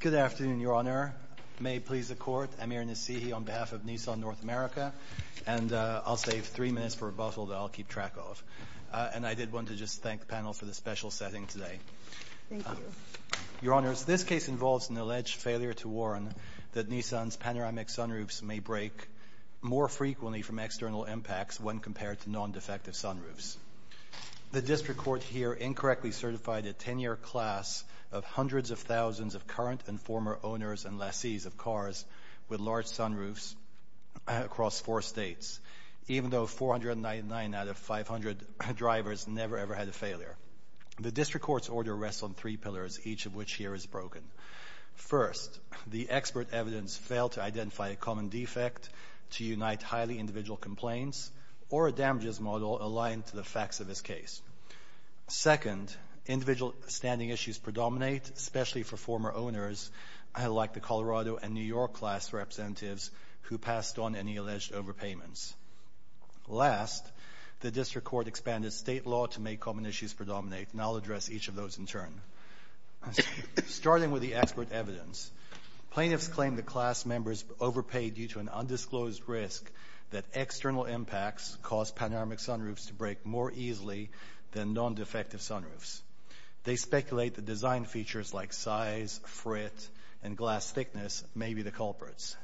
Good afternoon, Your Honor. May it please the Court, I'm Aaron Nassihi on behalf of Nissan North America, and I'll save three minutes for a bustle that I'll keep track of. And I did want to just thank the panel for the special setting today. Your Honors, this case involves an alleged failure to warn that Nissan's panoramic sunroofs may break more frequently from external impacts when compared to non-defective sunroofs. The district court here incorrectly certified a 10-year class of hundreds of thousands of current and former owners and lessees of cars with large sunroofs across four states, even though 499 out of 500 drivers never ever had a failure. The district court's order rests on three pillars, each of which here is broken. First, the expert evidence failed to identify a common defect to unite highly individual complaints or a individual standing issues predominate, especially for former owners like the Colorado and New York class representatives who passed on any alleged overpayments. Last, the district court expanded state law to make common issues predominate, and I'll address each of those in turn. Starting with the expert evidence, plaintiffs claim the class members overpaid due to an undisclosed risk that external impacts caused panoramic sunroofs to break more easily than non-defective sunroofs. They speculate the design features like size, fret, and glass thickness may be the culprits.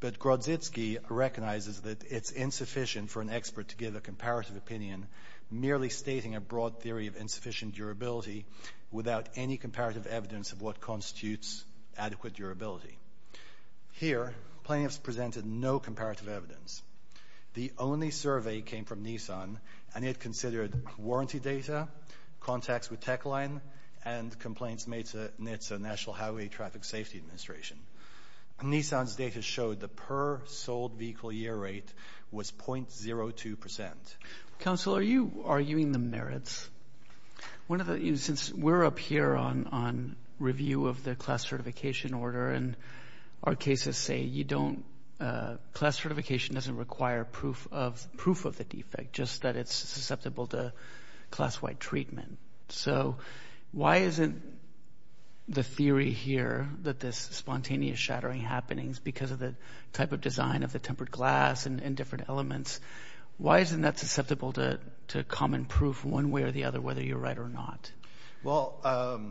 But Grodzitski recognizes that it's insufficient for an expert to give a comparative opinion, merely stating a broad theory of insufficient durability without any comparative evidence of what constitutes adequate durability. Here, plaintiffs presented no comparative evidence. The only survey came from Nissan, and it considered warranty data, contacts with Techline, and complaints made to NHTSA, National Highway Traffic Safety Administration. Nissan's data showed the per-sold vehicle year rate was 0.02%. Council, are you arguing the merits? Since we're up here on review of the class certification doesn't require proof of the defect, just that it's susceptible to class-wide treatment. So why isn't the theory here that this spontaneous shattering happenings because of the type of design of the tempered glass and different elements, why isn't that susceptible to common proof one way or the other, whether you're right or not? Well,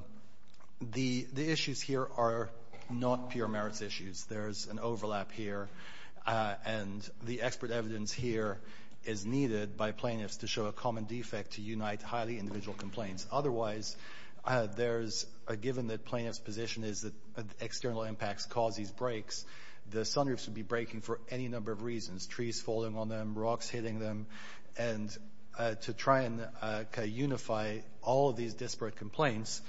the issues here are not pure merits issues. There's an overlap here, and the expert evidence here is needed by plaintiffs to show a common defect to unite highly individual complaints. Otherwise, there's a given that plaintiff's position is that external impacts cause these breaks, the sunroof should be breaking for any number of reasons. Trees falling on them, rocks hitting them, and to try and unify all of these disparate complaints,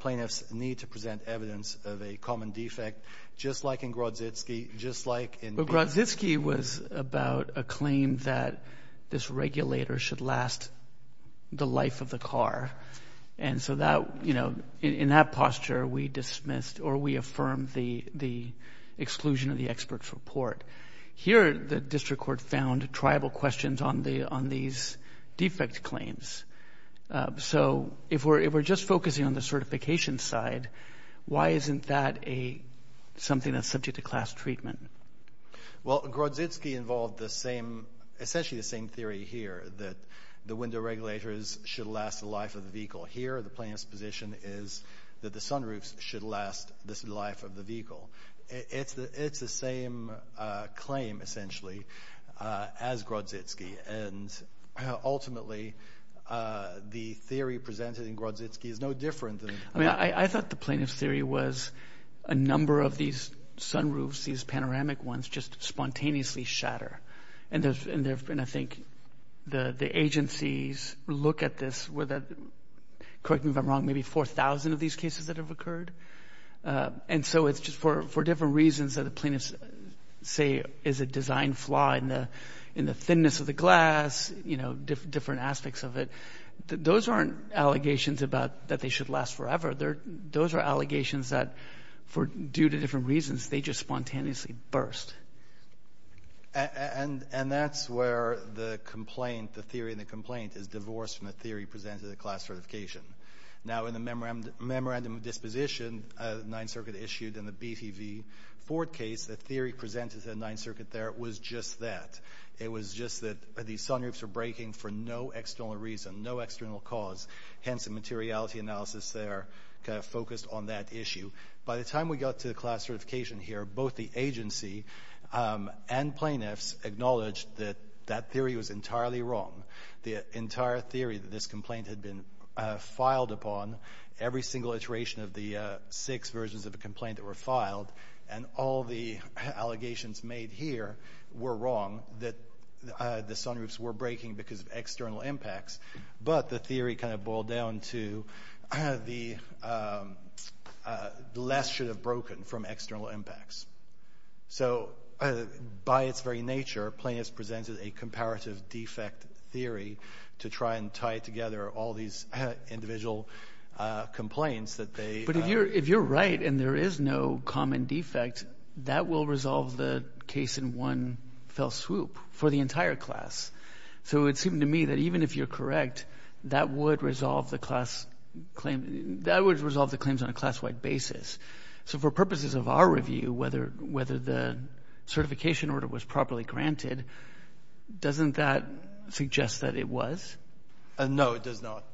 plaintiffs need to present evidence of a common defect, just like in Grodzycki, just like in... But Grodzycki was about a claim that this regulator should last the life of the car, and so that, you know, in that posture we dismissed or we affirmed the exclusion of the expert's report. Here, the district court found tribal questions on these defect claims. So if we're just focusing on the certification side, why isn't that something that's subject to class treatment? Well, Grodzycki involved essentially the same theory here, that the window regulators should last the life of the vehicle. Here, the plaintiff's position is that the sunroofs should last the life of the vehicle. It's the same claim, essentially, as Grodzycki. And ultimately, the theory presented in Grodzycki is no different than... I mean, I thought the plaintiff's theory was a number of these sunroofs, these panoramic ones, just spontaneously shatter. And I think the agencies look at this with a, correct me if I'm wrong, maybe 4,000 of these cases that have occurred. And so it's just for different reasons that the plaintiff's, say, is a design flaw in the thinness of the glass, you know, different aspects of it. Those aren't allegations that they should last forever. Those are allegations that, due to different reasons, they just spontaneously burst. And that's where the complaint, the theory in the complaint, is divorced from the theory presented at class certification. Now, in the Memorandum of Disposition, the Ninth Circuit, the theory presented at the Ninth Circuit there was just that. It was just that these sunroofs were breaking for no external reason, no external cause. Hence, the materiality analysis there kind of focused on that issue. By the time we got to the class certification here, both the agency and plaintiffs acknowledged that that theory was entirely wrong. The entire theory that this complaint had been filed upon, every single iteration of the six versions of the complaint that were filed, and all the allegations made here were wrong, that the sunroofs were breaking because of external impacts. But the theory kind of boiled down to the glass should have broken from external impacts. So, by its very nature, plaintiffs presented a comparative defect theory to try and tie together all these individual complaints that they... But if you're right and there is no common defect, that will resolve the case in one fell swoop for the entire class. So, it seemed to me that even if you're correct, that would resolve the class claim, that would resolve the claims on a class-wide basis. So, for purposes of our review, whether the certification order was properly granted, doesn't that suggest that it was? No, it does not,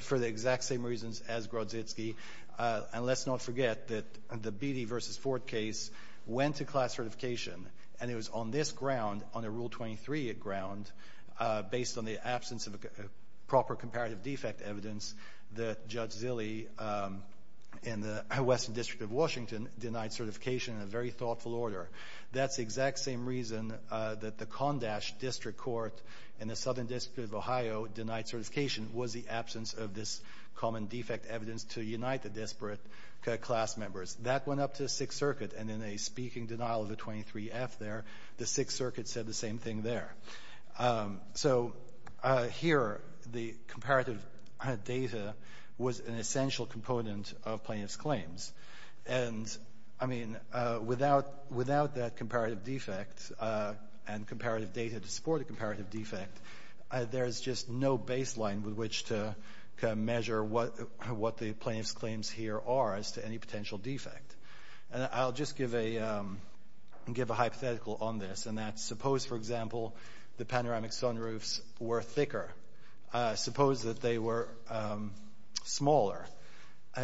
for the exact same reasons as Grodzitski. And let's not forget that the Beattie v. Ford case went to class certification, and it was on this ground, on a Rule 23 ground, based on the absence of a proper comparative defect evidence, that Judge Zille in the Western District of Washington denied certification in a very thoughtful order. That's the exact same reason that the Condash District Court in the Southern District of Ohio denied certification was the absence of this common defect evidence to unite the disparate class members. That went up to the Sixth Circuit, and in a speaking denial of the 23-F there, the Sixth Circuit said the same thing there. So, here, the comparative data was an essential component of plaintiffs' claims. And, I mean, without that comparative defect and comparative data to support a comparative defect, there's just no baseline with which to measure what the plaintiffs' claims here are as to any potential defect. And I'll just give a hypothetical on this, and that's suppose, for example, the panoramic sunroofs were thicker, suppose that they were smaller,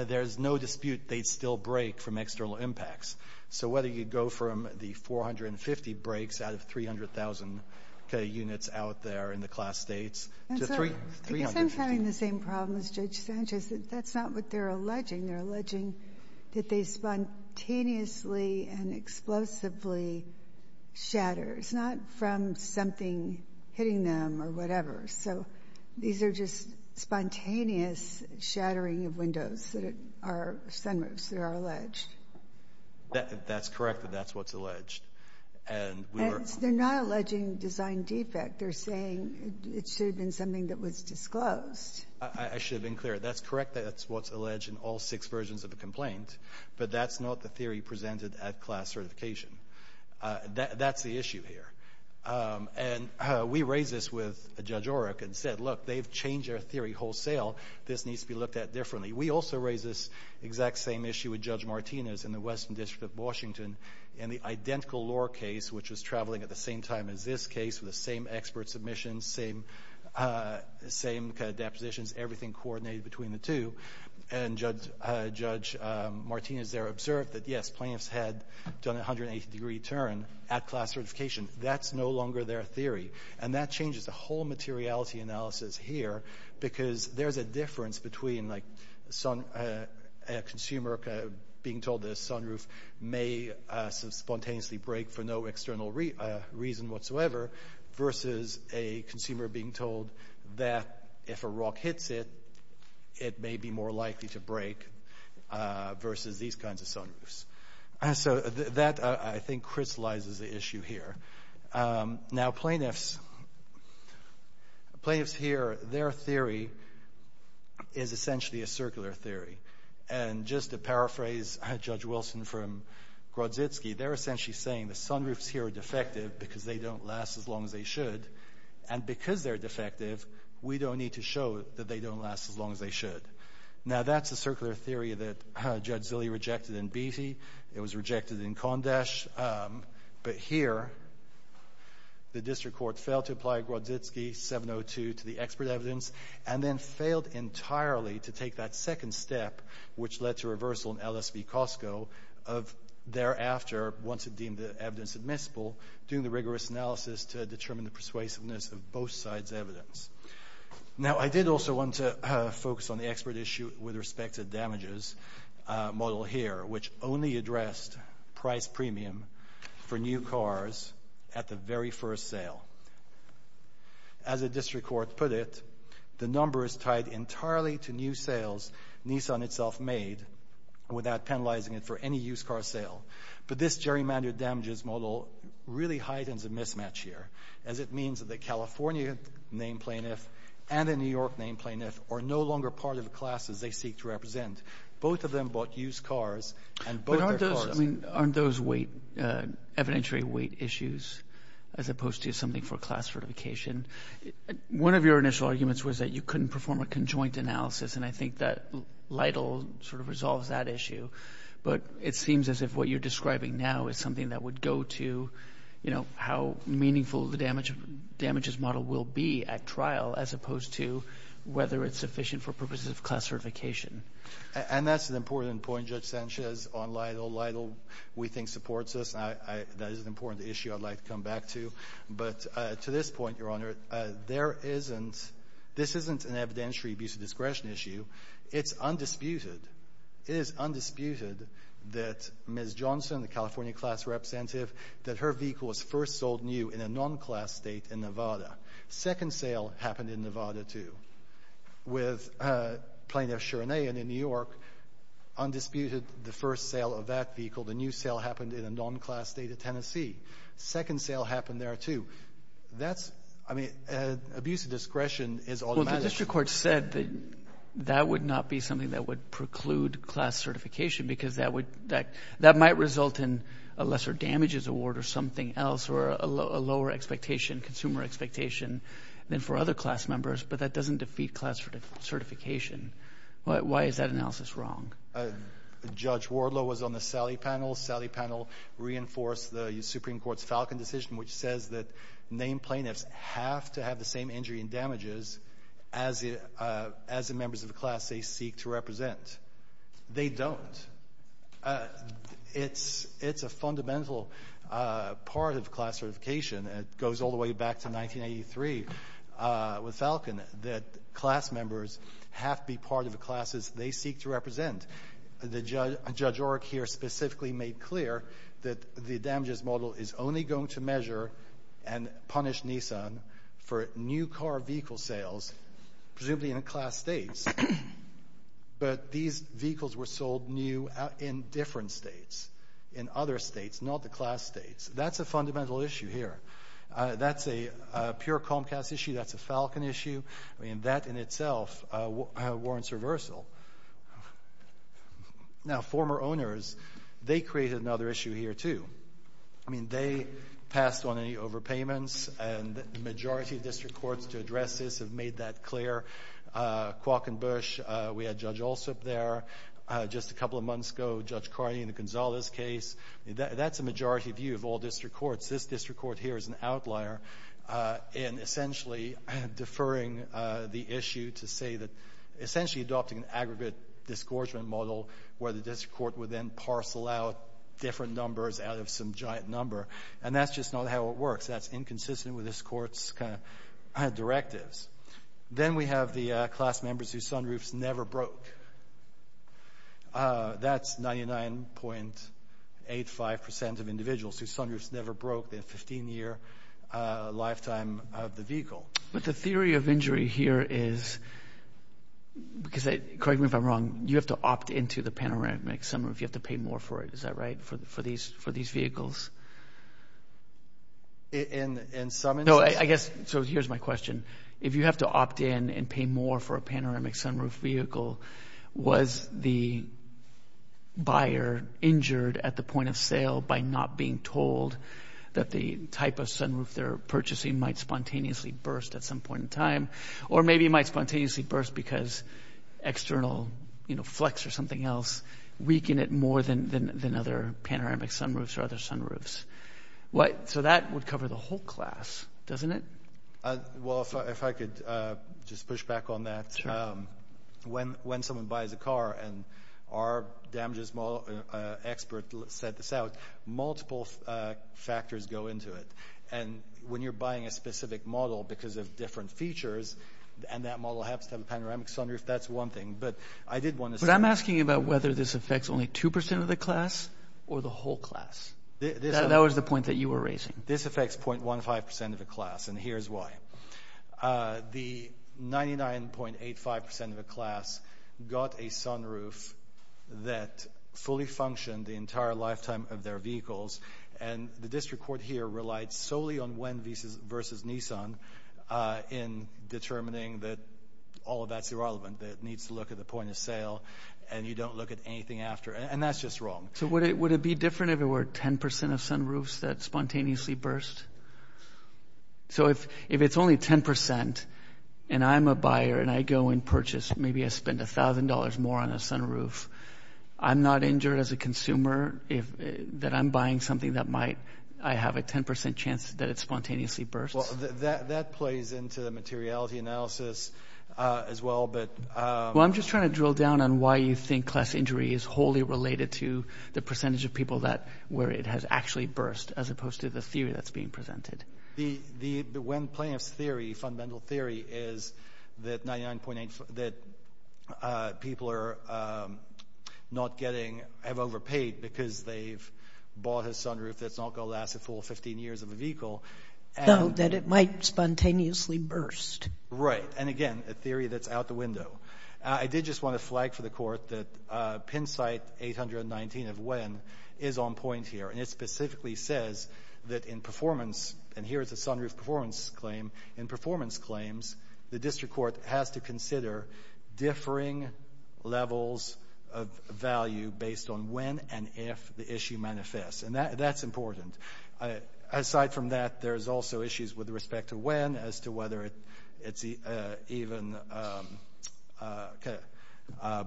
there's no dispute they'd still break from external impacts. So whether you go from the 450 breaks out of 300,000 units out there in the class States to 350. Ginsburg. I guess I'm having the same problem as Judge Sanchez. That's not what they're alleging. They're alleging that they spontaneously and explosively shatter. It's not from something hitting them or whatever. So, these are just spontaneous shattering of windows that are sunroofs. They are alleged. That's correct. That's what's alleged. And we were... And they're not alleging design defect. They're saying it should have been something that was disclosed. I should have been clear. That's correct. That's what's alleged in all six versions of the complaint. But that's not the theory presented at class certification. That's the issue here. And we raised this with Judge Oreck and said, look, they've changed their theory wholesale. This needs to be looked at differently. We also raised this exact same issue with Judge Martinez in the Western District of Washington in the identical law case, which was traveling at the same time as this case with the same expert submissions, same depositions, everything coordinated between the two. And Judge Martinez there observed that, yes, plaintiffs had done a 180-degree turn at class certification. That's no longer their theory. And that changes the whole materiality analysis here because there's a difference between a consumer being told that a sunroof may spontaneously break for no external reason whatsoever versus a consumer being told that if a rock hits it, it may be more likely to break versus these kinds of sunroofs. So that, I think, crystallizes the issue here. Now, plaintiffs here, their theory is essentially a circular theory. And just to paraphrase Judge Wilson from Grodzitski, they're essentially saying the sunroofs here are defective because they don't last as long as they should. And because they're defective, we don't need to show that they don't last as long as they should. Now, that's a circular theory that Judge Zille rejected in Beattie. It was rejected in Condash. But here, the district court failed to apply Grodzitski 702 to the expert evidence and then failed entirely to take that second step, which led to reversal in LSV-Costco of thereafter, once it deemed the evidence admissible, doing the rigorous analysis to determine the persuasiveness of both sides' evidence. Now, I did also want to focus on the expert issue with respect to damages model here, which only addressed price premium for new cars at the very first sale. As a district court put it, the number is tied entirely to new sales Nissan itself made without penalizing it for any used car sale. But this gerrymandered damages model really heightens a mismatch here, as it means that the California name plaintiff and the New York name plaintiff are no longer part of the classes they seek to represent. Both of them bought used cars and bought their cars. But aren't those weight, evidentiary weight issues, as opposed to something for class certification? One of your initial arguments was that you couldn't perform a conjoint analysis, and I think that LIDL sort of resolves that issue. But it seems as if what you're describing now is something that would go to, you know, how meaningful the damages model will be at trial, as opposed to whether it's sufficient for purposes of class certification. And that's an important point, Judge Sanchez, on LIDL. LIDL, we think, supports this. That is an important issue I'd like to come back to. But to this point, Your Honor, there isn't — this isn't an evidentiary abuse of discretion issue. It's undisputed — it is undisputed that Ms. Johnson, the California class representative, that her vehicle was first sold new in a non-class state in Nevada. Second sale happened in Nevada, too. With Plaintiff Cherney in New York, undisputed the first sale of that vehicle. The new sale happened in a non-class state of Tennessee. Second sale happened there, too. That's — I mean, abuse of discretion is automatic. The district court said that that would not be something that would preclude class certification because that would — that might result in a lesser damages award or something else or a lower expectation, consumer expectation, than for other class members, but that doesn't defeat class certification. Why is that analysis wrong? Judge Wardlow was on the Sallie panel. Sallie panel reinforced the Supreme Court's Falcon decision, which says that named plaintiffs have to have the same injury and damages as the — as the members of the class they seek to represent. They don't. It's — it's a fundamental part of class certification. It goes all the way back to 1983 with Falcon that class members have to be part of the classes they seek to represent. And the judge — Judge Orrick here specifically made clear that the damages model is only going to measure and punish Nissan for new car vehicle sales, presumably in class states, but these vehicles were sold new in different states, in other states, not the class states. That's a fundamental issue here. That's a pure Comcast issue. That's a Falcon issue. I mean, that in itself warrants reversal. Now, former owners, they created another issue here, too. I mean, they passed on any overpayments, and the majority of district courts to address this have made that clear. Quokk and Bush, we had Judge Alsup there just a couple of months ago, Judge Carney in the Gonzales case. That's a majority view of all district courts. This district court here is an outlier in essentially deferring the issue to say that — essentially adopting an aggregate disgorgement model where the district court would then parcel out different numbers out of some giant number. And that's just not how it works. That's inconsistent with this court's kind of directives. Then we have the class members whose sunroofs never broke. That's 99.85 percent of individuals whose sunroofs never broke their 15-year lifetime of the vehicle. But the theory of injury here is — correct me if I'm wrong — you have to opt into the panoramic sunroof. You have to pay more for it. Is that right, for these vehicles? In some instances — No, I guess — so here's my question. If you have to opt in and pay more for a panoramic sunroof vehicle, was the buyer injured at the point of sale by not being told that the type of sunroof they're purchasing might spontaneously burst at some point in time? Or maybe it might spontaneously burst because external flex or something else weakened it more than other panoramic sunroofs or other sunroofs. So that would cover the whole class, doesn't it? Well, if I could just push back on that. When someone buys a car and our damages expert set this out, multiple factors go into it. And when you're buying a specific model because of different features, and that model happens to have a panoramic sunroof, that's one thing. But I did want to say — But I'm asking about whether this affects only 2 percent of the class or the whole class. That was the point that you were raising. This affects 0.15 percent of the class, and here's why. The 99.85 percent of the class got a sunroof that fully functioned the entire lifetime of their vehicles. And the district court here relied solely on WEN versus Nissan in determining that all of that's irrelevant, that it needs to look at the point of sale, and you don't look at anything after. And that's just wrong. So would it be different if it were 10 percent of sunroofs that spontaneously burst? So if it's only 10 percent, and I'm a buyer and I go and purchase, maybe I spend $1,000 more on a sunroof, I'm not injured as a consumer that I'm buying something that might — I have a 10 percent chance that it spontaneously bursts? That plays into the materiality analysis as well, but — Well, I'm just trying to drill down on why you think class injury is wholly related to the percentage of people that — where it has actually burst, as opposed to the theory that's being presented. WEN plaintiff's theory, fundamental theory, is that 99.85 — that people are not getting — have overpaid because they've bought a sunroof that's not going to last a full 15 years of a vehicle, and — So that it might spontaneously burst. Right. And again, a theory that's out the window. I did just want to flag for the Court that Penn site 819 of WEN is on point here, and it specifically says that in performance — and here is a sunroof performance claim — in performance claims, the district court has to consider differing levels of value based on when and if the issue manifests. And that's important. Aside from that, there's also issues with respect to WEN as to whether it's even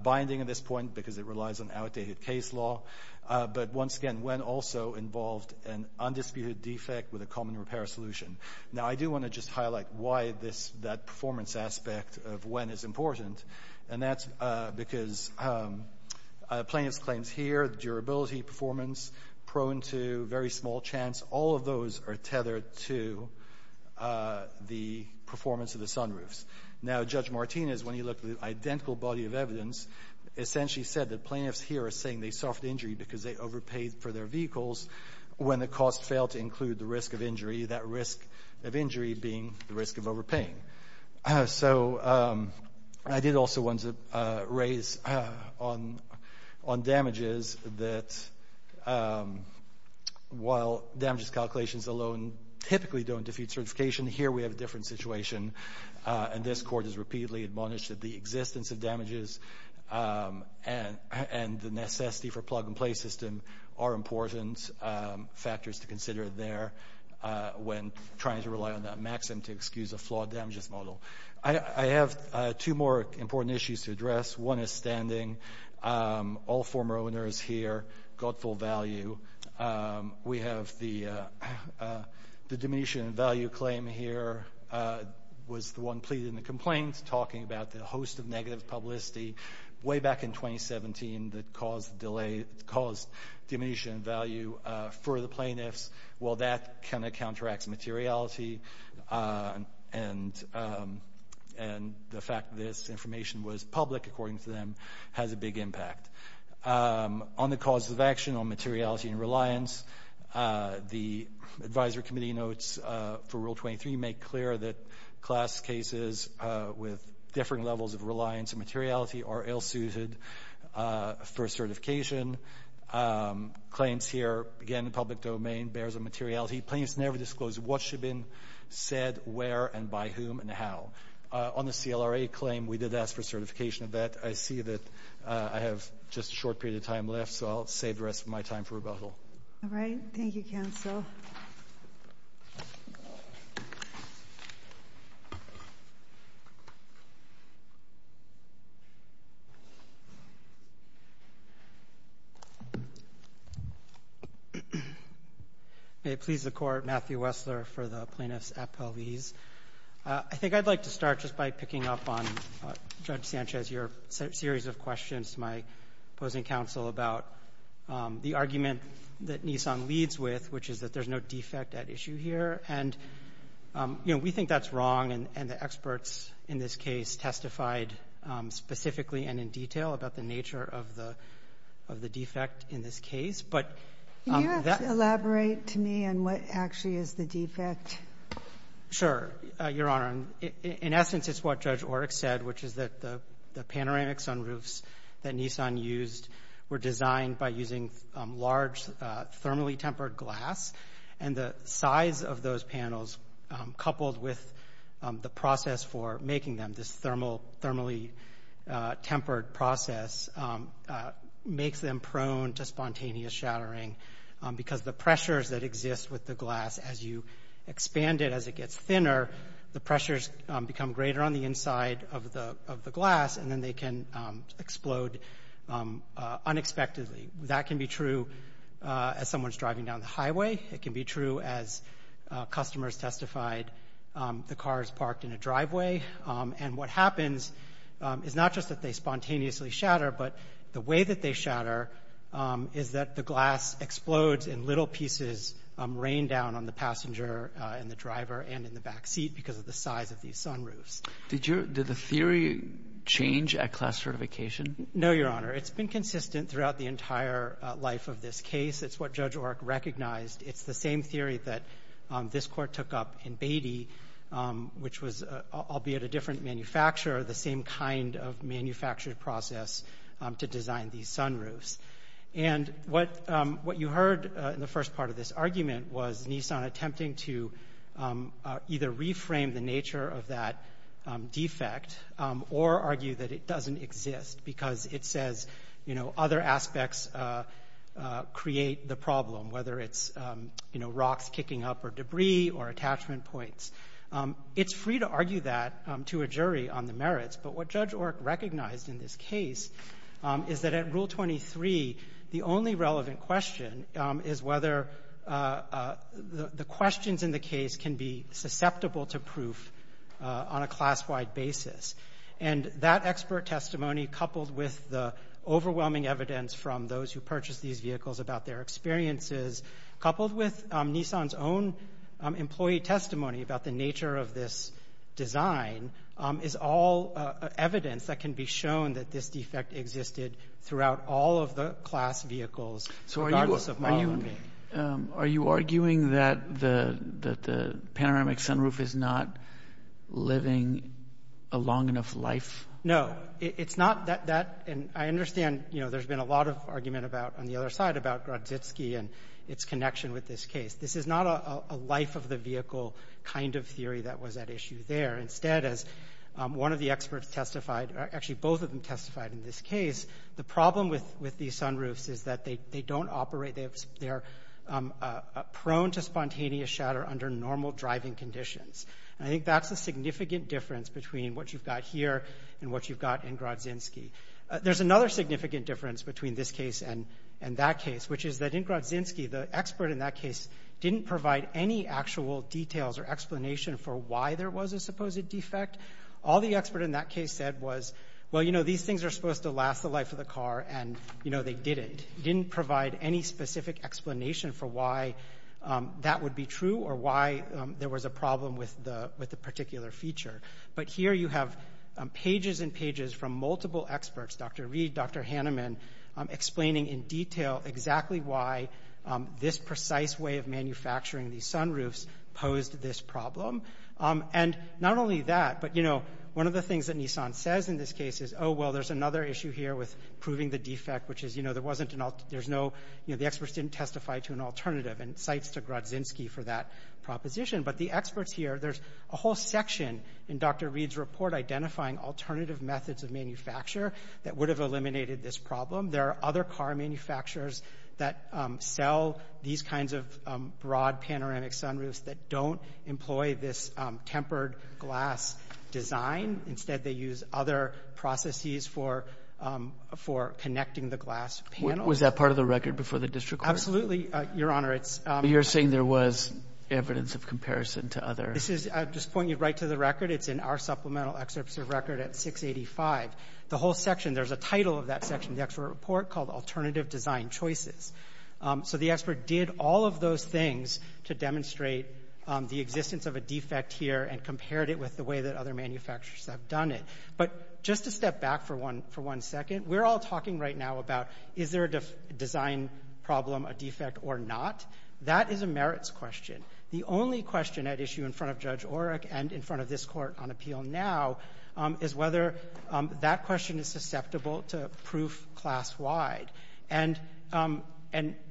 binding at this point, because it relies on outdated case law. But once again, WEN also involved an undisputed defect with a common repair solution. Now, I do want to just highlight why this — that performance aspect of WEN is important, and that's because plaintiff's claims here, the durability, performance, prone to very small chance, all of those are tethered to the performance of the sunroofs. Now, Judge Martinez, when he looked at the identical body of evidence, essentially said that plaintiffs here are saying they suffered injury because they overpaid for their vehicles when the cost failed to include the risk of injury, that risk of injury being the risk of overpaying. So, I did also want to raise on damages that, while damages calculations alone typically don't defeat certification, here we have a different situation. And this court has repeatedly admonished that the existence of damages and the necessity for plug-and-play system are important factors to consider there when trying to rely on that maxim to excuse a flawed damages model. I have two more important issues to address. One is standing. All former owners here, godful value. We have the diminution in value claim here was the one pleading the complaint, talking about the host of negative publicity way back in 2017 that caused the delay, caused diminution in value for the plaintiffs. Well, that kind of counteracts materiality, and the fact that this information was public, according to them, has a big impact. On the cause of action on materiality and reliance, the advisory committee notes for Rule 23 make clear that class cases with differing levels of reliance and materiality are ill-suited for certification. Claims here, again, public domain, bears a materiality. Plaintiffs never disclose what should have been said, where, and by whom, and how. On the CLRA claim, we did ask for certification of that. I see that I have just a short period of time left, so I'll save the rest of my time for rebuttal. All right. Thank you, counsel. May it please the Court, Matthew Wessler for the plaintiffs' appellees. I think I'd like to start just by picking up on Judge Sanchez, your series of questions to my opposing counsel about the argument that Nissan leads with, which is that there's no defect at issue here. And, you know, we think that's wrong, and the experts in this case testified specifically and in detail about the nature of the defect in this case. Can you elaborate to me on what actually is the defect? Sure, Your Honor. In essence, it's what Judge Orrick said, which is that the panoramic sunroofs that Nissan used were designed by using large, thermally tempered glass. And the size of those panels, coupled with the process for making them, this thermally tempered process, makes them prone to spontaneous shattering, because the pressures that exist with the glass, as you expand it, as it gets thinner, the pressures become greater on the inside of the glass, and then they can explode unexpectedly. That can be true as someone's driving down the highway. It can be true, as customers testified, the car is parked in a driveway. And what happens is not just that they spontaneously shatter, but the way that they shatter is that the glass explodes in little pieces rained down on the passenger and the driver and in the back seat because of the size of these sunroofs. Did your – did the theory change at class certification? No, Your Honor. It's been consistent throughout the entire life of this case. It's what Judge Orrick recognized. It's the same theory that this Court took up in Beatty, which was, albeit a different manufacturer, the same kind of manufactured process to design these sunroofs. And what you heard in the first part of this argument was Nissan attempting to either reframe the nature of that defect or argue that it doesn't exist, because it says, you know, other aspects create the problem, whether it's, you know, rocks kicking up or debris or attachment points. It's free to argue that to a jury on the merits, but what Judge Orrick recognized in this case is that at Rule 23, the only relevant question is whether the questions in the case can be susceptible to proof on a class-wide basis. And that expert testimony, coupled with the overwhelming evidence from those who purchased these vehicles about their experiences, coupled with Nissan's own employee testimony about the nature of this design, is all evidence that can be shown that this defect existed throughout all of the class vehicles, regardless of model name. Are you arguing that the panoramic sunroof is not living a long enough life? No. It's not that, and I understand, you know, there's been a lot of argument about, on the other side, about Gradzitski and its connection with this case. This is not a life of the vehicle kind of theory that was at issue there. Instead, as one of the experts testified, actually both of them testified in this case, the problem with these sunroofs is that they don't operate. They're prone to spontaneous shatter under normal driving conditions. And I think that's a significant difference between what you've got here and what you've got in Gradzinski. There's another significant difference between this case and that case, which is that in Gradzinski, the expert in that case didn't provide any actual details or explanation for why there was a supposed defect. All the expert in that case said was, well, you know, these things are supposed to last the life of the car, and, you know, they didn't. They didn't provide any specific explanation for why that would be true or why there was a problem with the particular feature. But here you have pages and pages from multiple experts, Dr. Reed, Dr. Hanneman, explaining in detail exactly why this precise way of manufacturing these sunroofs posed this problem. And not only that, but, you know, one of the things that Nissan says in this case is, oh, well, there's another issue here with proving the defect, which is, you know, there wasn't an alternative. There's no, you know, the experts didn't testify to an alternative, and cites to Gradzinski for that proposition. But the experts here, there's a whole section in Dr. Reed's report identifying alternative methods of manufacture that would have eliminated this problem. There are other car manufacturers that sell these kinds of broad panoramic sunroofs that don't employ this tempered glass design. Instead, they use other processes for connecting the glass panels. Was that part of the record before the district court? Absolutely, Your Honor. It's But you're saying there was evidence of comparison to others. This is, I'll just point you right to the record. It's in our supplemental excerpts of record at 685. The whole section, there's a title of that section in the expert report called Alternative Design Choices. So the expert did all of those things to demonstrate the existence of a defect here and compared it with the way that other manufacturers have done it. But just to step back for one second, we're all talking right now about is there a design problem, a defect or not? That is a merits question. The only question at issue in front of Judge Oreck and in front of this Court on appeal now is whether that question is susceptible to proof class-wide. And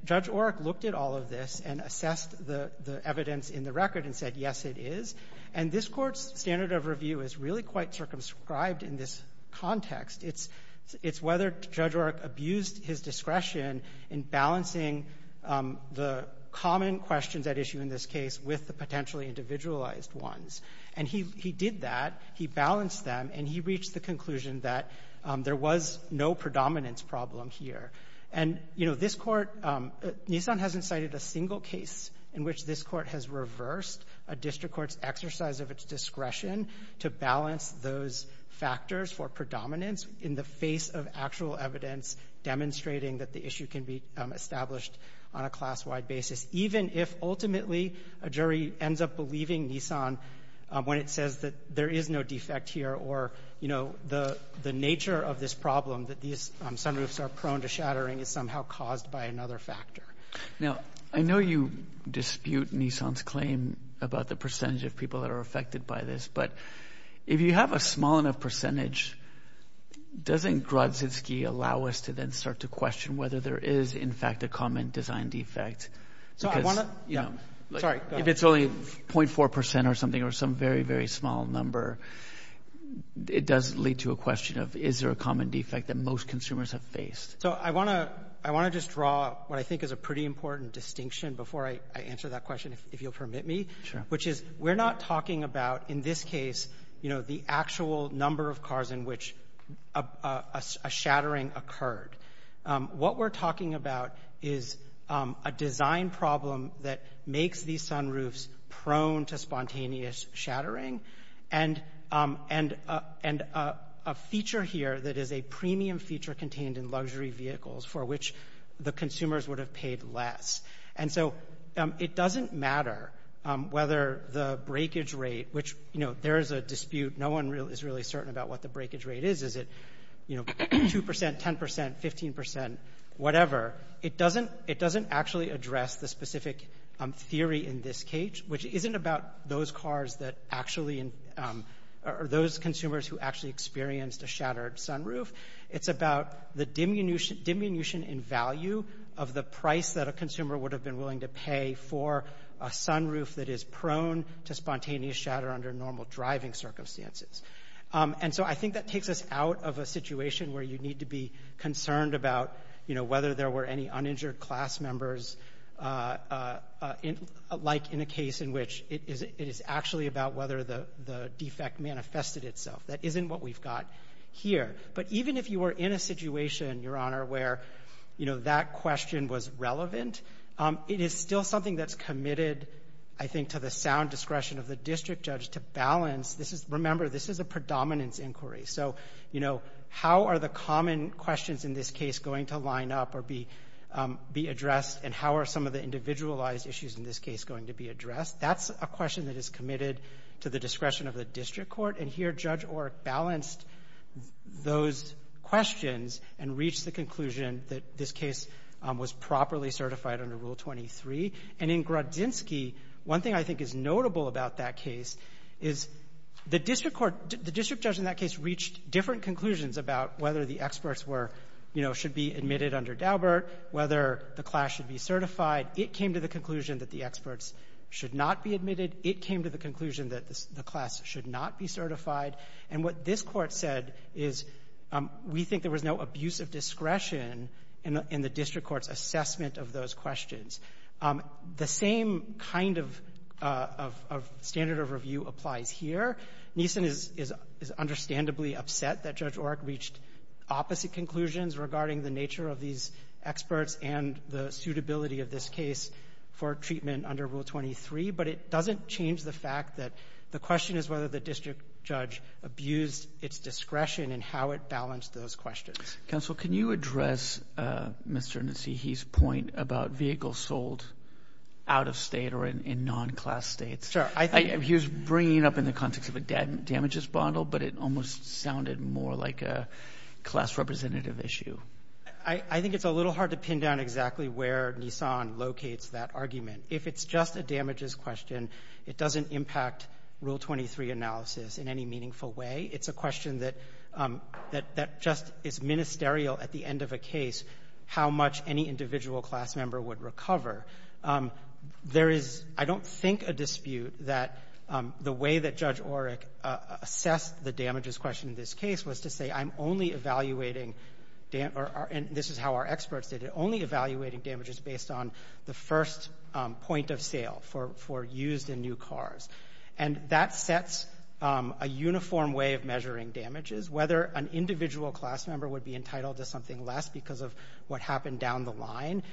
Judge Oreck looked at all of this and assessed the evidence in the record and said, yes, it is. And this Court's standard of review is really quite circumscribed in this context. It's whether Judge Oreck abused his discretion in balancing the common questions at issue in this case with the potentially individualized ones. And he did that. He balanced them. And he reached the conclusion that there was no predominance problem here. And, you know, I don't think it's the first district court's exercise of its discretion to balance those factors for predominance in the face of actual evidence demonstrating that the issue can be established on a class-wide basis, even if ultimately a jury ends up believing Nissan when it says that there is no defect here or, you know, the nature of this problem that these sunroofs are prone to shattering is somehow caused by another factor. Now, I know you dispute Nissan's claim about the percentage of people that are affected by this. But if you have a small enough percentage, doesn't Grodzinski allow us to then start to question whether there is, in fact, a common design defect? So I want to, you know, sorry, if it's only 0.4 percent or something or some very, very small number, it does lead to a question of is there a common defect that most consumers have faced? So I want to just draw what I think is a pretty important distinction before I answer that question, if you'll permit me, which is we're not talking about in this case, you know, the actual number of cars in which a shattering occurred. What we're talking about is a design problem that makes these sunroofs prone to spontaneous shattering, and a feature here that is a premium feature contained in luxury vehicles for which the consumers would have paid less. And so it doesn't matter whether the breakage rate, which, you know, there is a dispute. No one is really certain about what the breakage rate is. Is it, you know, 2 percent, 10 percent, 15 percent, whatever? It doesn't actually address the specific theory in this case, which isn't about those cars that actually are those consumers who actually experienced a shattered sunroof. It's about the diminution in value of the price that a consumer would have been willing to pay for a sunroof that is prone to spontaneous shatter under normal driving circumstances. And so I think that takes us out of a situation where you need to be concerned about, you know, whether there were any uninjured class members, like in a case in which it is actually about whether the defect manifested itself. That isn't what we've got here. But even if you were in a situation, Your Honor, where, you know, that question was relevant, it is still something that's committed, I think, to the sound discretion of the district judge to balance. This is remember, this is a predominance inquiry. So, you know, how are the common questions in this case going to line up or be addressed? And how are some of the individualized issues in this case going to be addressed? That's a question that is committed to the discretion of the district court. And here, Judge Orrick balanced those questions and reached the conclusion that this case was properly certified under Rule 23. And in Grudzinski, one thing I think is notable about that case is the district court — the district judge in that case reached different conclusions about whether the experts were — you know, should be admitted under Daubert, whether the class should be certified. It came to the conclusion that the experts should not be admitted. It came to the conclusion that the class should not be certified. And what this Court said is, we think there was no abuse of discretion in the district court's assessment of those questions. The same kind of — of standard of review applies here. Neeson is — is understandably upset that Judge Orrick reached opposite conclusions regarding the nature of these experts and the suitability of this case for treatment under Rule 23. But it doesn't change the fact that the question is whether the district judge abused its discretion and how it balanced those questions. Counsel, can you address Mr. Ntsihe's point about vehicles sold out of state or in non-class states? Sure. He was bringing it up in the context of a damages bundle, but it almost sounded more like a class representative issue. I think it's a little hard to pin down exactly where Neeson locates that argument. If it's just a damages question, it doesn't impact Rule 23 analysis in any meaningful way. It's a question that — that just is ministerial at the end of a case, how much any individual class member would recover. There is, I don't think, a dispute that the way that Judge Orrick assessed the damages question in this case was to say, I'm only evaluating — and this is how our experts did it — only evaluating damages based on the first point of sale for used in new cars. And that sets a uniform way of measuring damages. Whether an individual class member would be entitled to something less because of what happened down the line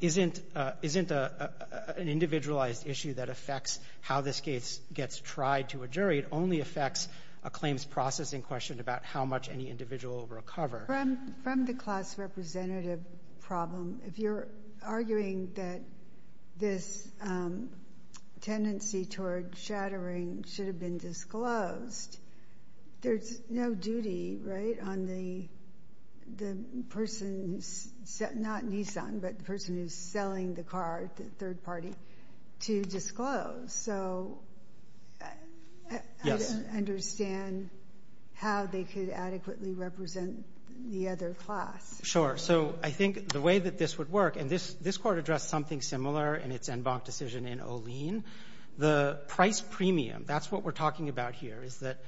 isn't — isn't an individualized issue that affects how this case gets tried to a jury. It only affects a claims processing question about how much any individual will recover. From the class representative problem, if you're arguing that this tendency toward shattering should have been disclosed, there's no duty, right, on the — the person — not Neeson, but the person who's selling the car, the third party, to disclose. So I don't understand how they could adequately represent the other class. So I think the way that this would work — and this Court addressed something similar in its en banc decision in Olien. The price premium, that's what we're talking about here, is that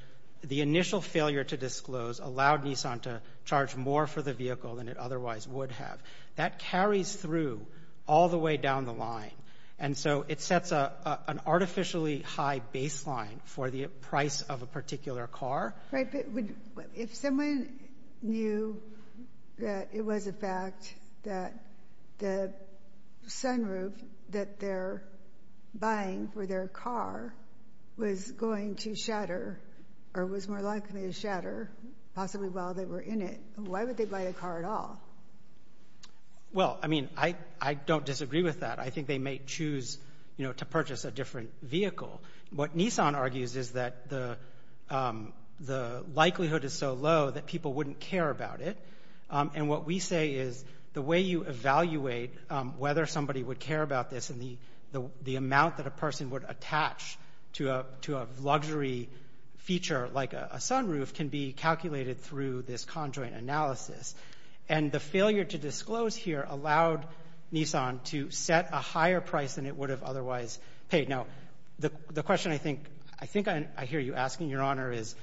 the initial failure to disclose allowed Neeson to charge more for the vehicle than it otherwise would have. That carries through all the way down the line. And so it sets an artificially high baseline for the price of a particular car. But if someone knew that it was a fact that the sunroof that they're buying for their car was going to shatter, or was more likely to shatter, possibly while they were in it, why would they buy the car at all? Well, I mean, I — I don't disagree with that. I think they may choose, you know, to purchase a different vehicle. What Neeson argues is that the — the likelihood is so low that people wouldn't care about it. And what we say is the way you evaluate whether somebody would care about this and the — the amount that a person would attach to a — to a luxury feature like a sunroof can be calculated through this conjoint analysis. And the failure to disclose here allowed Neeson to set a higher price than it would have otherwise paid. Now, the — the question I think — I think I hear you asking, Your Honor, is,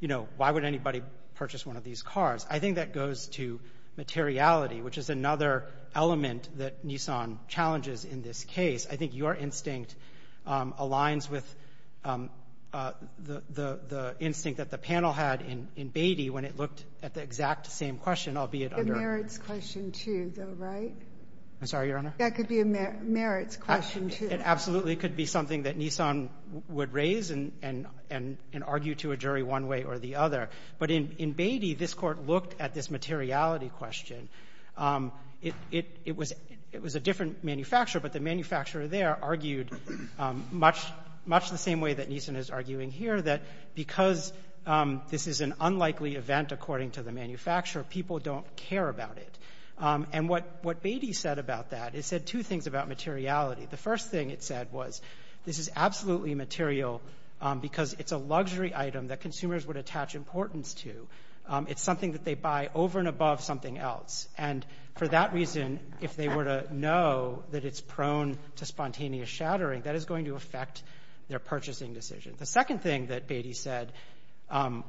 you know, why would anybody purchase one of these cars? I think that goes to materiality, which is another element that Neeson challenges in this case. I think your instinct aligns with the — the instinct that the panel had in — in Beatty when it looked at the exact same question, albeit under — The merits question, too, though, right? I'm sorry, Your Honor? That could be a merits question, too. It absolutely could be something that Neeson would raise and — and argue to a jury one way or the other. But in — in Beatty, this Court looked at this materiality question. It — it was — it was a different manufacturer, but the manufacturer there argued much — much the same way that Neeson is arguing here, that because this is an unlikely event, according to the manufacturer, people don't care about it. And what — what Beatty said about that, it said two things about materiality. The first thing it said was, this is absolutely material because it's a luxury item that consumers would attach importance to. It's something that they buy over and above something else. And for that reason, if they were to know that it's prone to spontaneous shattering, that is going to affect their purchasing decision. The second thing that Beatty said on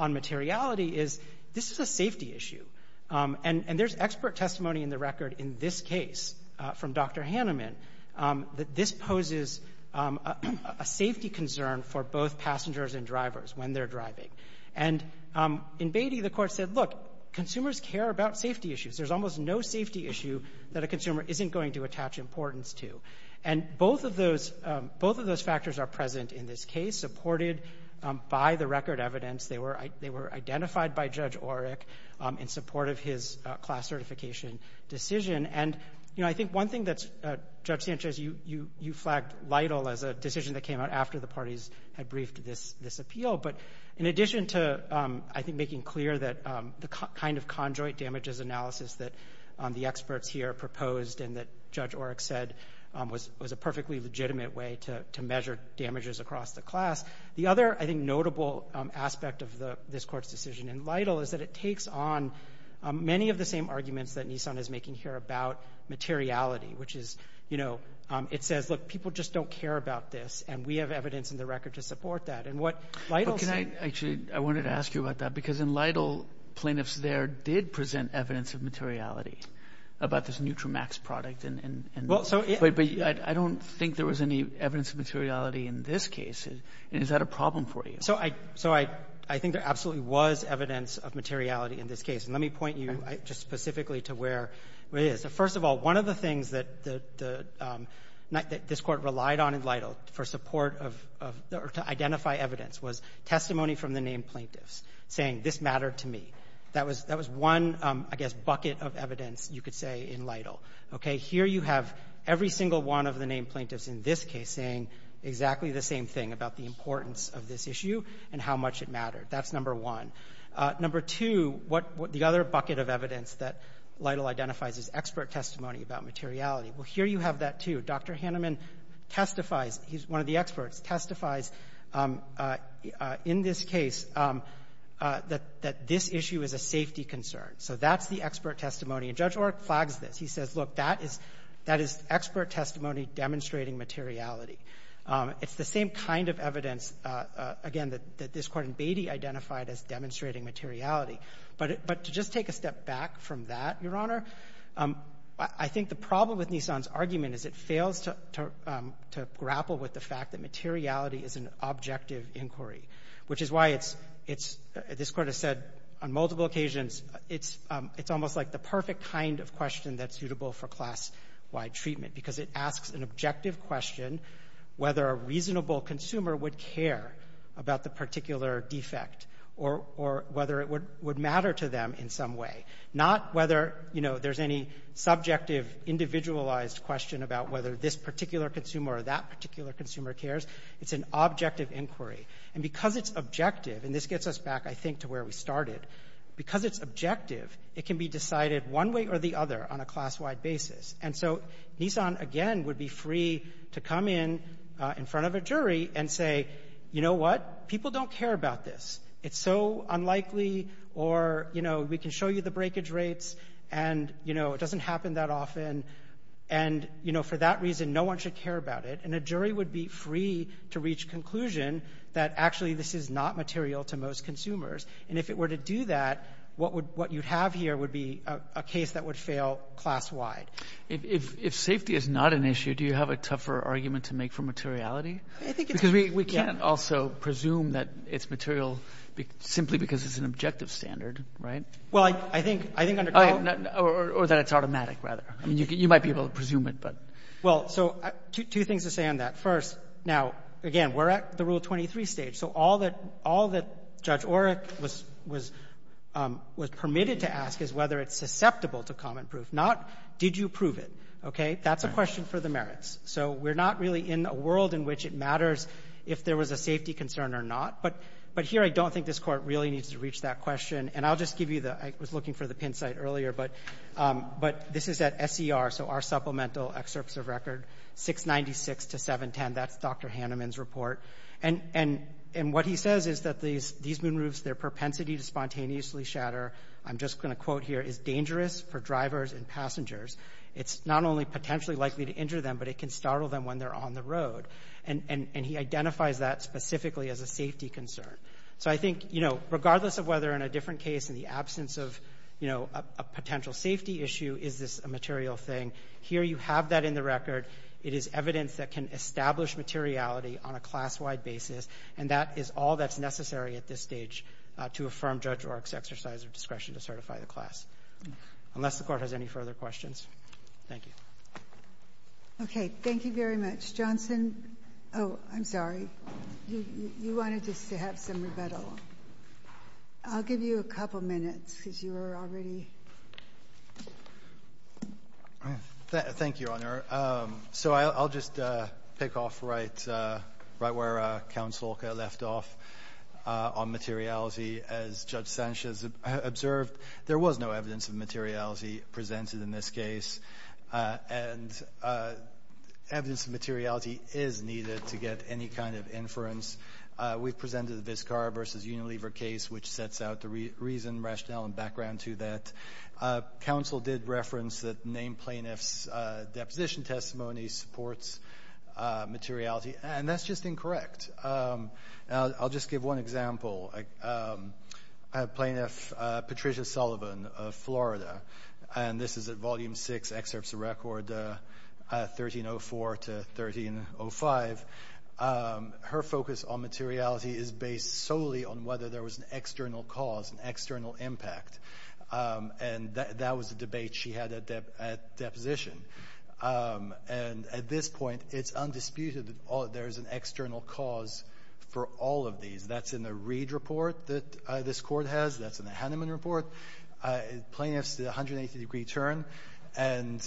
materiality is, this is a safety issue. And — and there's expert testimony in the record in this case from Dr. Haneman that this poses a safety concern for both passengers and drivers when they're driving. And in Beatty, the Court said, look, consumers care about safety issues. There's almost no safety issue that a consumer isn't going to attach importance to. And both of those — both of those factors are present in this case, supported by the record evidence. They were — they were identified by Judge Orrick in support of his class certification decision. And, you know, I think one thing that's — Judge Sanchez, you — you — you flagged Lytle as a decision that came out after the parties had briefed this — this appeal. But in addition to, I think, making clear that the kind of conjoint damages analysis that the experts here proposed and that Judge Orrick said was — was a perfectly legitimate way to — to measure damages across the class, the other, I think, notable aspect of the — this Court's decision in Lytle is that it takes on many of the same arguments that Nissan is making here about materiality, which is, you know, it says, look, people just don't care about this, and we have evidence in the record to support that. And what Lytle said — But can I — actually, I wanted to ask you about that. Because in Lytle, plaintiffs there did present evidence of materiality about this NutriMax product and — and — and — Well, so — But — but I don't think there was any evidence of materiality in this case. And is that a problem for you? So I — so I — I think there absolutely was evidence of materiality in this case. And let me point you just specifically to where it is. First of all, one of the things that — that this Court relied on in Lytle for support of — or to identify evidence was testimony from the named plaintiffs saying, this mattered to me. That was — that was one, I guess, bucket of evidence you could say in Lytle. Okay? Here you have every single one of the named plaintiffs in this case saying exactly the same thing about the importance of this issue and how much it mattered. That's number one. Number two, what — the other bucket of evidence that Lytle identifies is expert testimony about materiality. Well, here you have that, too. Dr. Haneman testifies. He's one of the experts, testifies in this case that — that this issue is a safety concern. So that's the expert testimony. And Judge Orrick flags this. He says, look, that is — that is expert testimony demonstrating materiality. It's the same kind of evidence, again, that this Court in Beatty identified as demonstrating materiality. But — but to just take a step back from that, Your Honor, I think the problem with Nissan's argument is it fails to grapple with the fact that materiality is an objective inquiry, which is why it's — it's — this Court has said on multiple occasions it's — it's almost like the perfect kind of question that's suitable for class-wide treatment because it asks an objective question whether a reasonable consumer would care about the particular defect or — or whether it would — would matter to them in some way. Not whether, you know, there's any subjective, individualized question about whether this particular consumer or that particular consumer cares. It's an objective inquiry. And because it's objective — and this gets us back, I think, to where we started — because it's objective, it can be decided one way or the other on a class-wide basis. And so Nissan, again, would be free to come in in front of a jury and say, you know what? People don't care about this. It's so unlikely. Or, you know, we can show you the breakage rates and, you know, it doesn't happen that often. And, you know, for that reason, no one should care about it. And a jury would be free to reach conclusion that actually this is not material to most consumers. And if it were to do that, what would — what you'd have here would be a case that would fail class-wide. If — if safety is not an issue, do you have a tougher argument to make for materiality? I think it's — Because we can't also presume that it's material simply because it's an objective standard, right? Well, I think — I think under — Or that it's automatic, rather. I mean, you might be able to presume it, but — Well, so two things to say on that. First, now, again, we're at the Rule 23 stage. So all that — all that Judge Orrick was — was permitted to ask is whether it's susceptible to common proof, not did you prove it. Okay? That's a question for the merits. So we're not really in a world in which it matters if there was a safety concern or not. But — but here, I don't think this Court really needs to reach that question. And I'll just give you the — I was looking for the pin site earlier, but — but this is at SER, so our supplemental excerpts of record 696 to 710. That's Dr. Hanneman's report. And — and — and what he says is that these — these moonroofs, their propensity to spontaneously shatter, I'm just going to quote here, is dangerous for drivers and passengers. It's not only potentially likely to injure them, but it can startle them when they're on the road. And — and he identifies that specifically as a safety concern. So I think, you know, regardless of whether in a different case, in the absence of, you know, a potential safety issue, is this a material thing, here you have that in the record. It is evidence that can establish materiality on a class-wide basis, and that is all that's necessary at this stage to affirm Judge Orrick's exercise of discretion to certify the class, unless the Court has any further questions. Thank you. Okay. Thank you very much. Johnson — oh, I'm sorry. You — you wanted to have some rebuttal. I'll give you a couple minutes, because you were already. Thank you, Your Honor. So I'll — I'll just pick off right — right where Counsel left off on materiality. As Judge Sanchez observed, there was no evidence of materiality presented in this case, and evidence of materiality is needed to get any kind of inference. We've presented the Vizcarra v. Unilever case, which sets out the reason, rationale, and background to that. Counsel did reference that named plaintiffs' deposition testimony supports materiality, and that's just incorrect. Now, I'll just give one example. A plaintiff, Patricia Sullivan of Florida — and this is at Volume 6, Excerpts of Record, 1304 to 1305 — her focus on materiality is based solely on whether there was an external cause, an external impact. And that was a debate she had at deposition. And at this point, it's undisputed that there's an external cause for all of these. That's in the Reid report that this Court has. That's in the Hanneman report. Plaintiffs did a 180-degree turn, and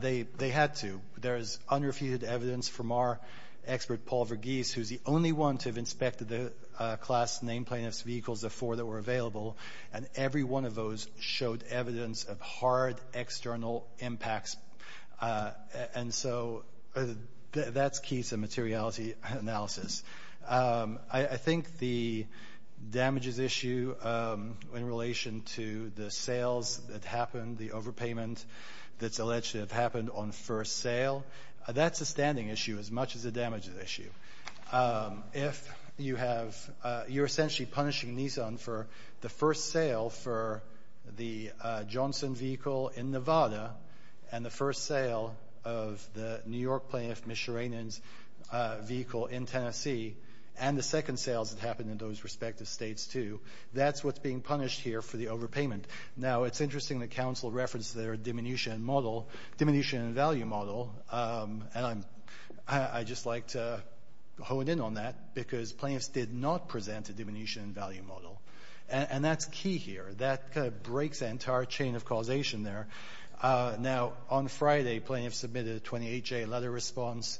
they — they had to. There's unrefuted evidence from our expert, Paul Verghese, who's the only one to have inspected the class named plaintiffs' vehicles, the four that were available, and every one of those showed evidence of hard external impacts. And so that's key to materiality analysis. I think the damages issue in relation to the sales that happened, the overpayment that's alleged to have happened on first sale, that's a standing issue as much as a damages issue. If you have — you're essentially punishing Nissan for the first sale for the Johnson vehicle in Nevada, and the first sale of the New York plaintiff, Mishiranian's vehicle in Tennessee, and the second sales that happened in those respective states, too, that's what's being punished here for the overpayment. Now, it's interesting that counsel referenced their diminution and model — diminution and value model, and I'm — I'd just like to hone in on that, because plaintiffs did not present a diminution and value model. And that's key here. That kind of breaks the entire chain of causation there. Now, on Friday, a plaintiff submitted a 28-J letter response,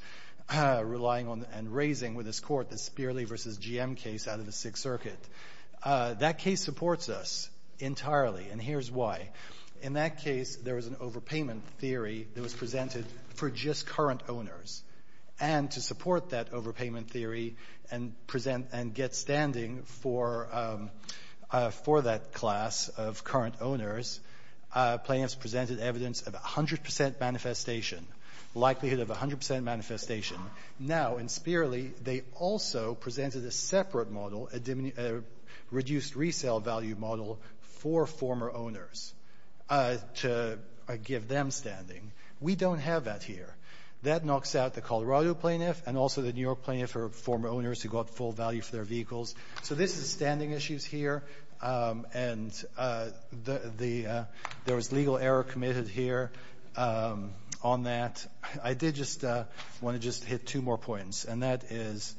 relying on and raising with his court the Spearley v. GM case out of the Sixth Circuit. That case supports us entirely, and here's why. In that case, there was an overpayment theory that was presented for just current owners, and to support that overpayment theory and present — and get standing for — for that class of current owners, plaintiffs presented evidence of 100 percent manifestation, likelihood of 100 percent manifestation. Now, in Spearley, they also presented a separate model, a reduced resale value model for former owners to give them standing. We don't have that here. That knocks out the Colorado plaintiff and also the New York plaintiff or former for their vehicles. So this is standing issues here, and the — there was legal error committed here on that. I did just want to just hit two more points, and that is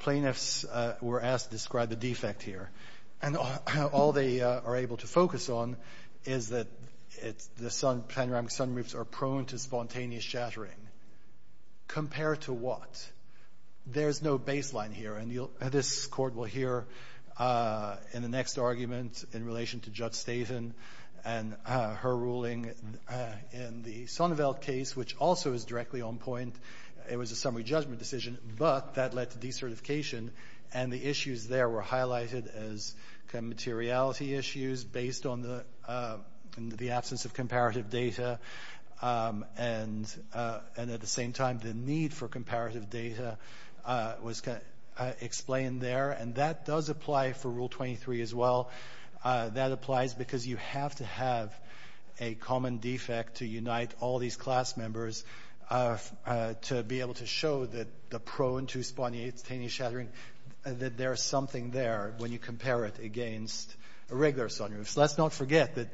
plaintiffs were asked to describe the defect here. And all they are able to focus on is that it's — the sun — panoramic sunroofs are prone to spontaneous shattering. Compare to what? There's no baseline here, and you'll — this Court will hear in the next argument in relation to Judge Statham and her ruling in the Sonneveld case, which also is directly on point. It was a summary judgment decision, but that led to decertification, and the issues there were highlighted as kind of materiality issues based on the — in the absence of comparative data, and at the same time, the need for comparative data was explained there. And that does apply for Rule 23 as well. That applies because you have to have a common defect to unite all these class members to be able to show that the prone to spontaneous shattering, that there's something there when you compare it against a regular sunroof. Let's not forget that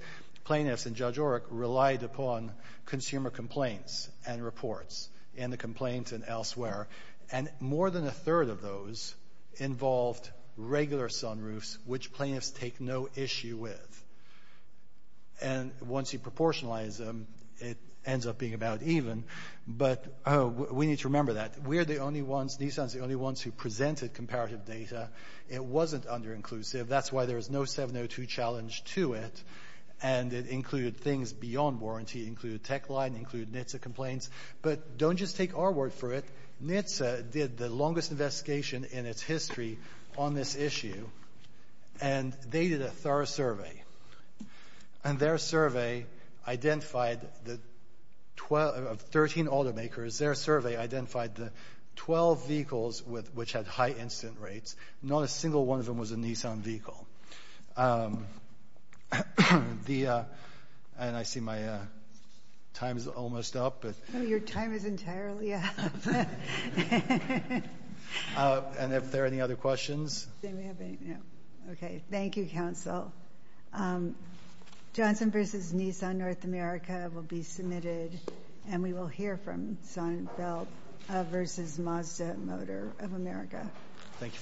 plaintiffs and Judge Oreck relied upon consumer complaints and reports in the complaints and elsewhere, and more than a third of those involved regular sunroofs, which plaintiffs take no issue with. And once you proportionalize them, it ends up being about even, but we need to remember that. We're the only ones — Nissan's the only ones who presented comparative data. It wasn't under-inclusive. That's why there was no 702 challenge to it, and it included things beyond warranty. It included Techline. It included NHTSA complaints. But don't just take our word for it. NHTSA did the longest investigation in its history on this issue, and they did a thorough survey, and their survey identified the 12 — of 13 automakers, their survey identified the 12 vehicles with — which had high incident rates. Not a single one of them was a Nissan vehicle. The — and I see my time is almost up, but — No, your time is entirely up. And if there are any other questions? Okay. Thank you, Counsel. Johnson v. Nissan North America will be submitted, and we will hear from Sonnenfeld v. Mazda Motor of America. Thank you for your time.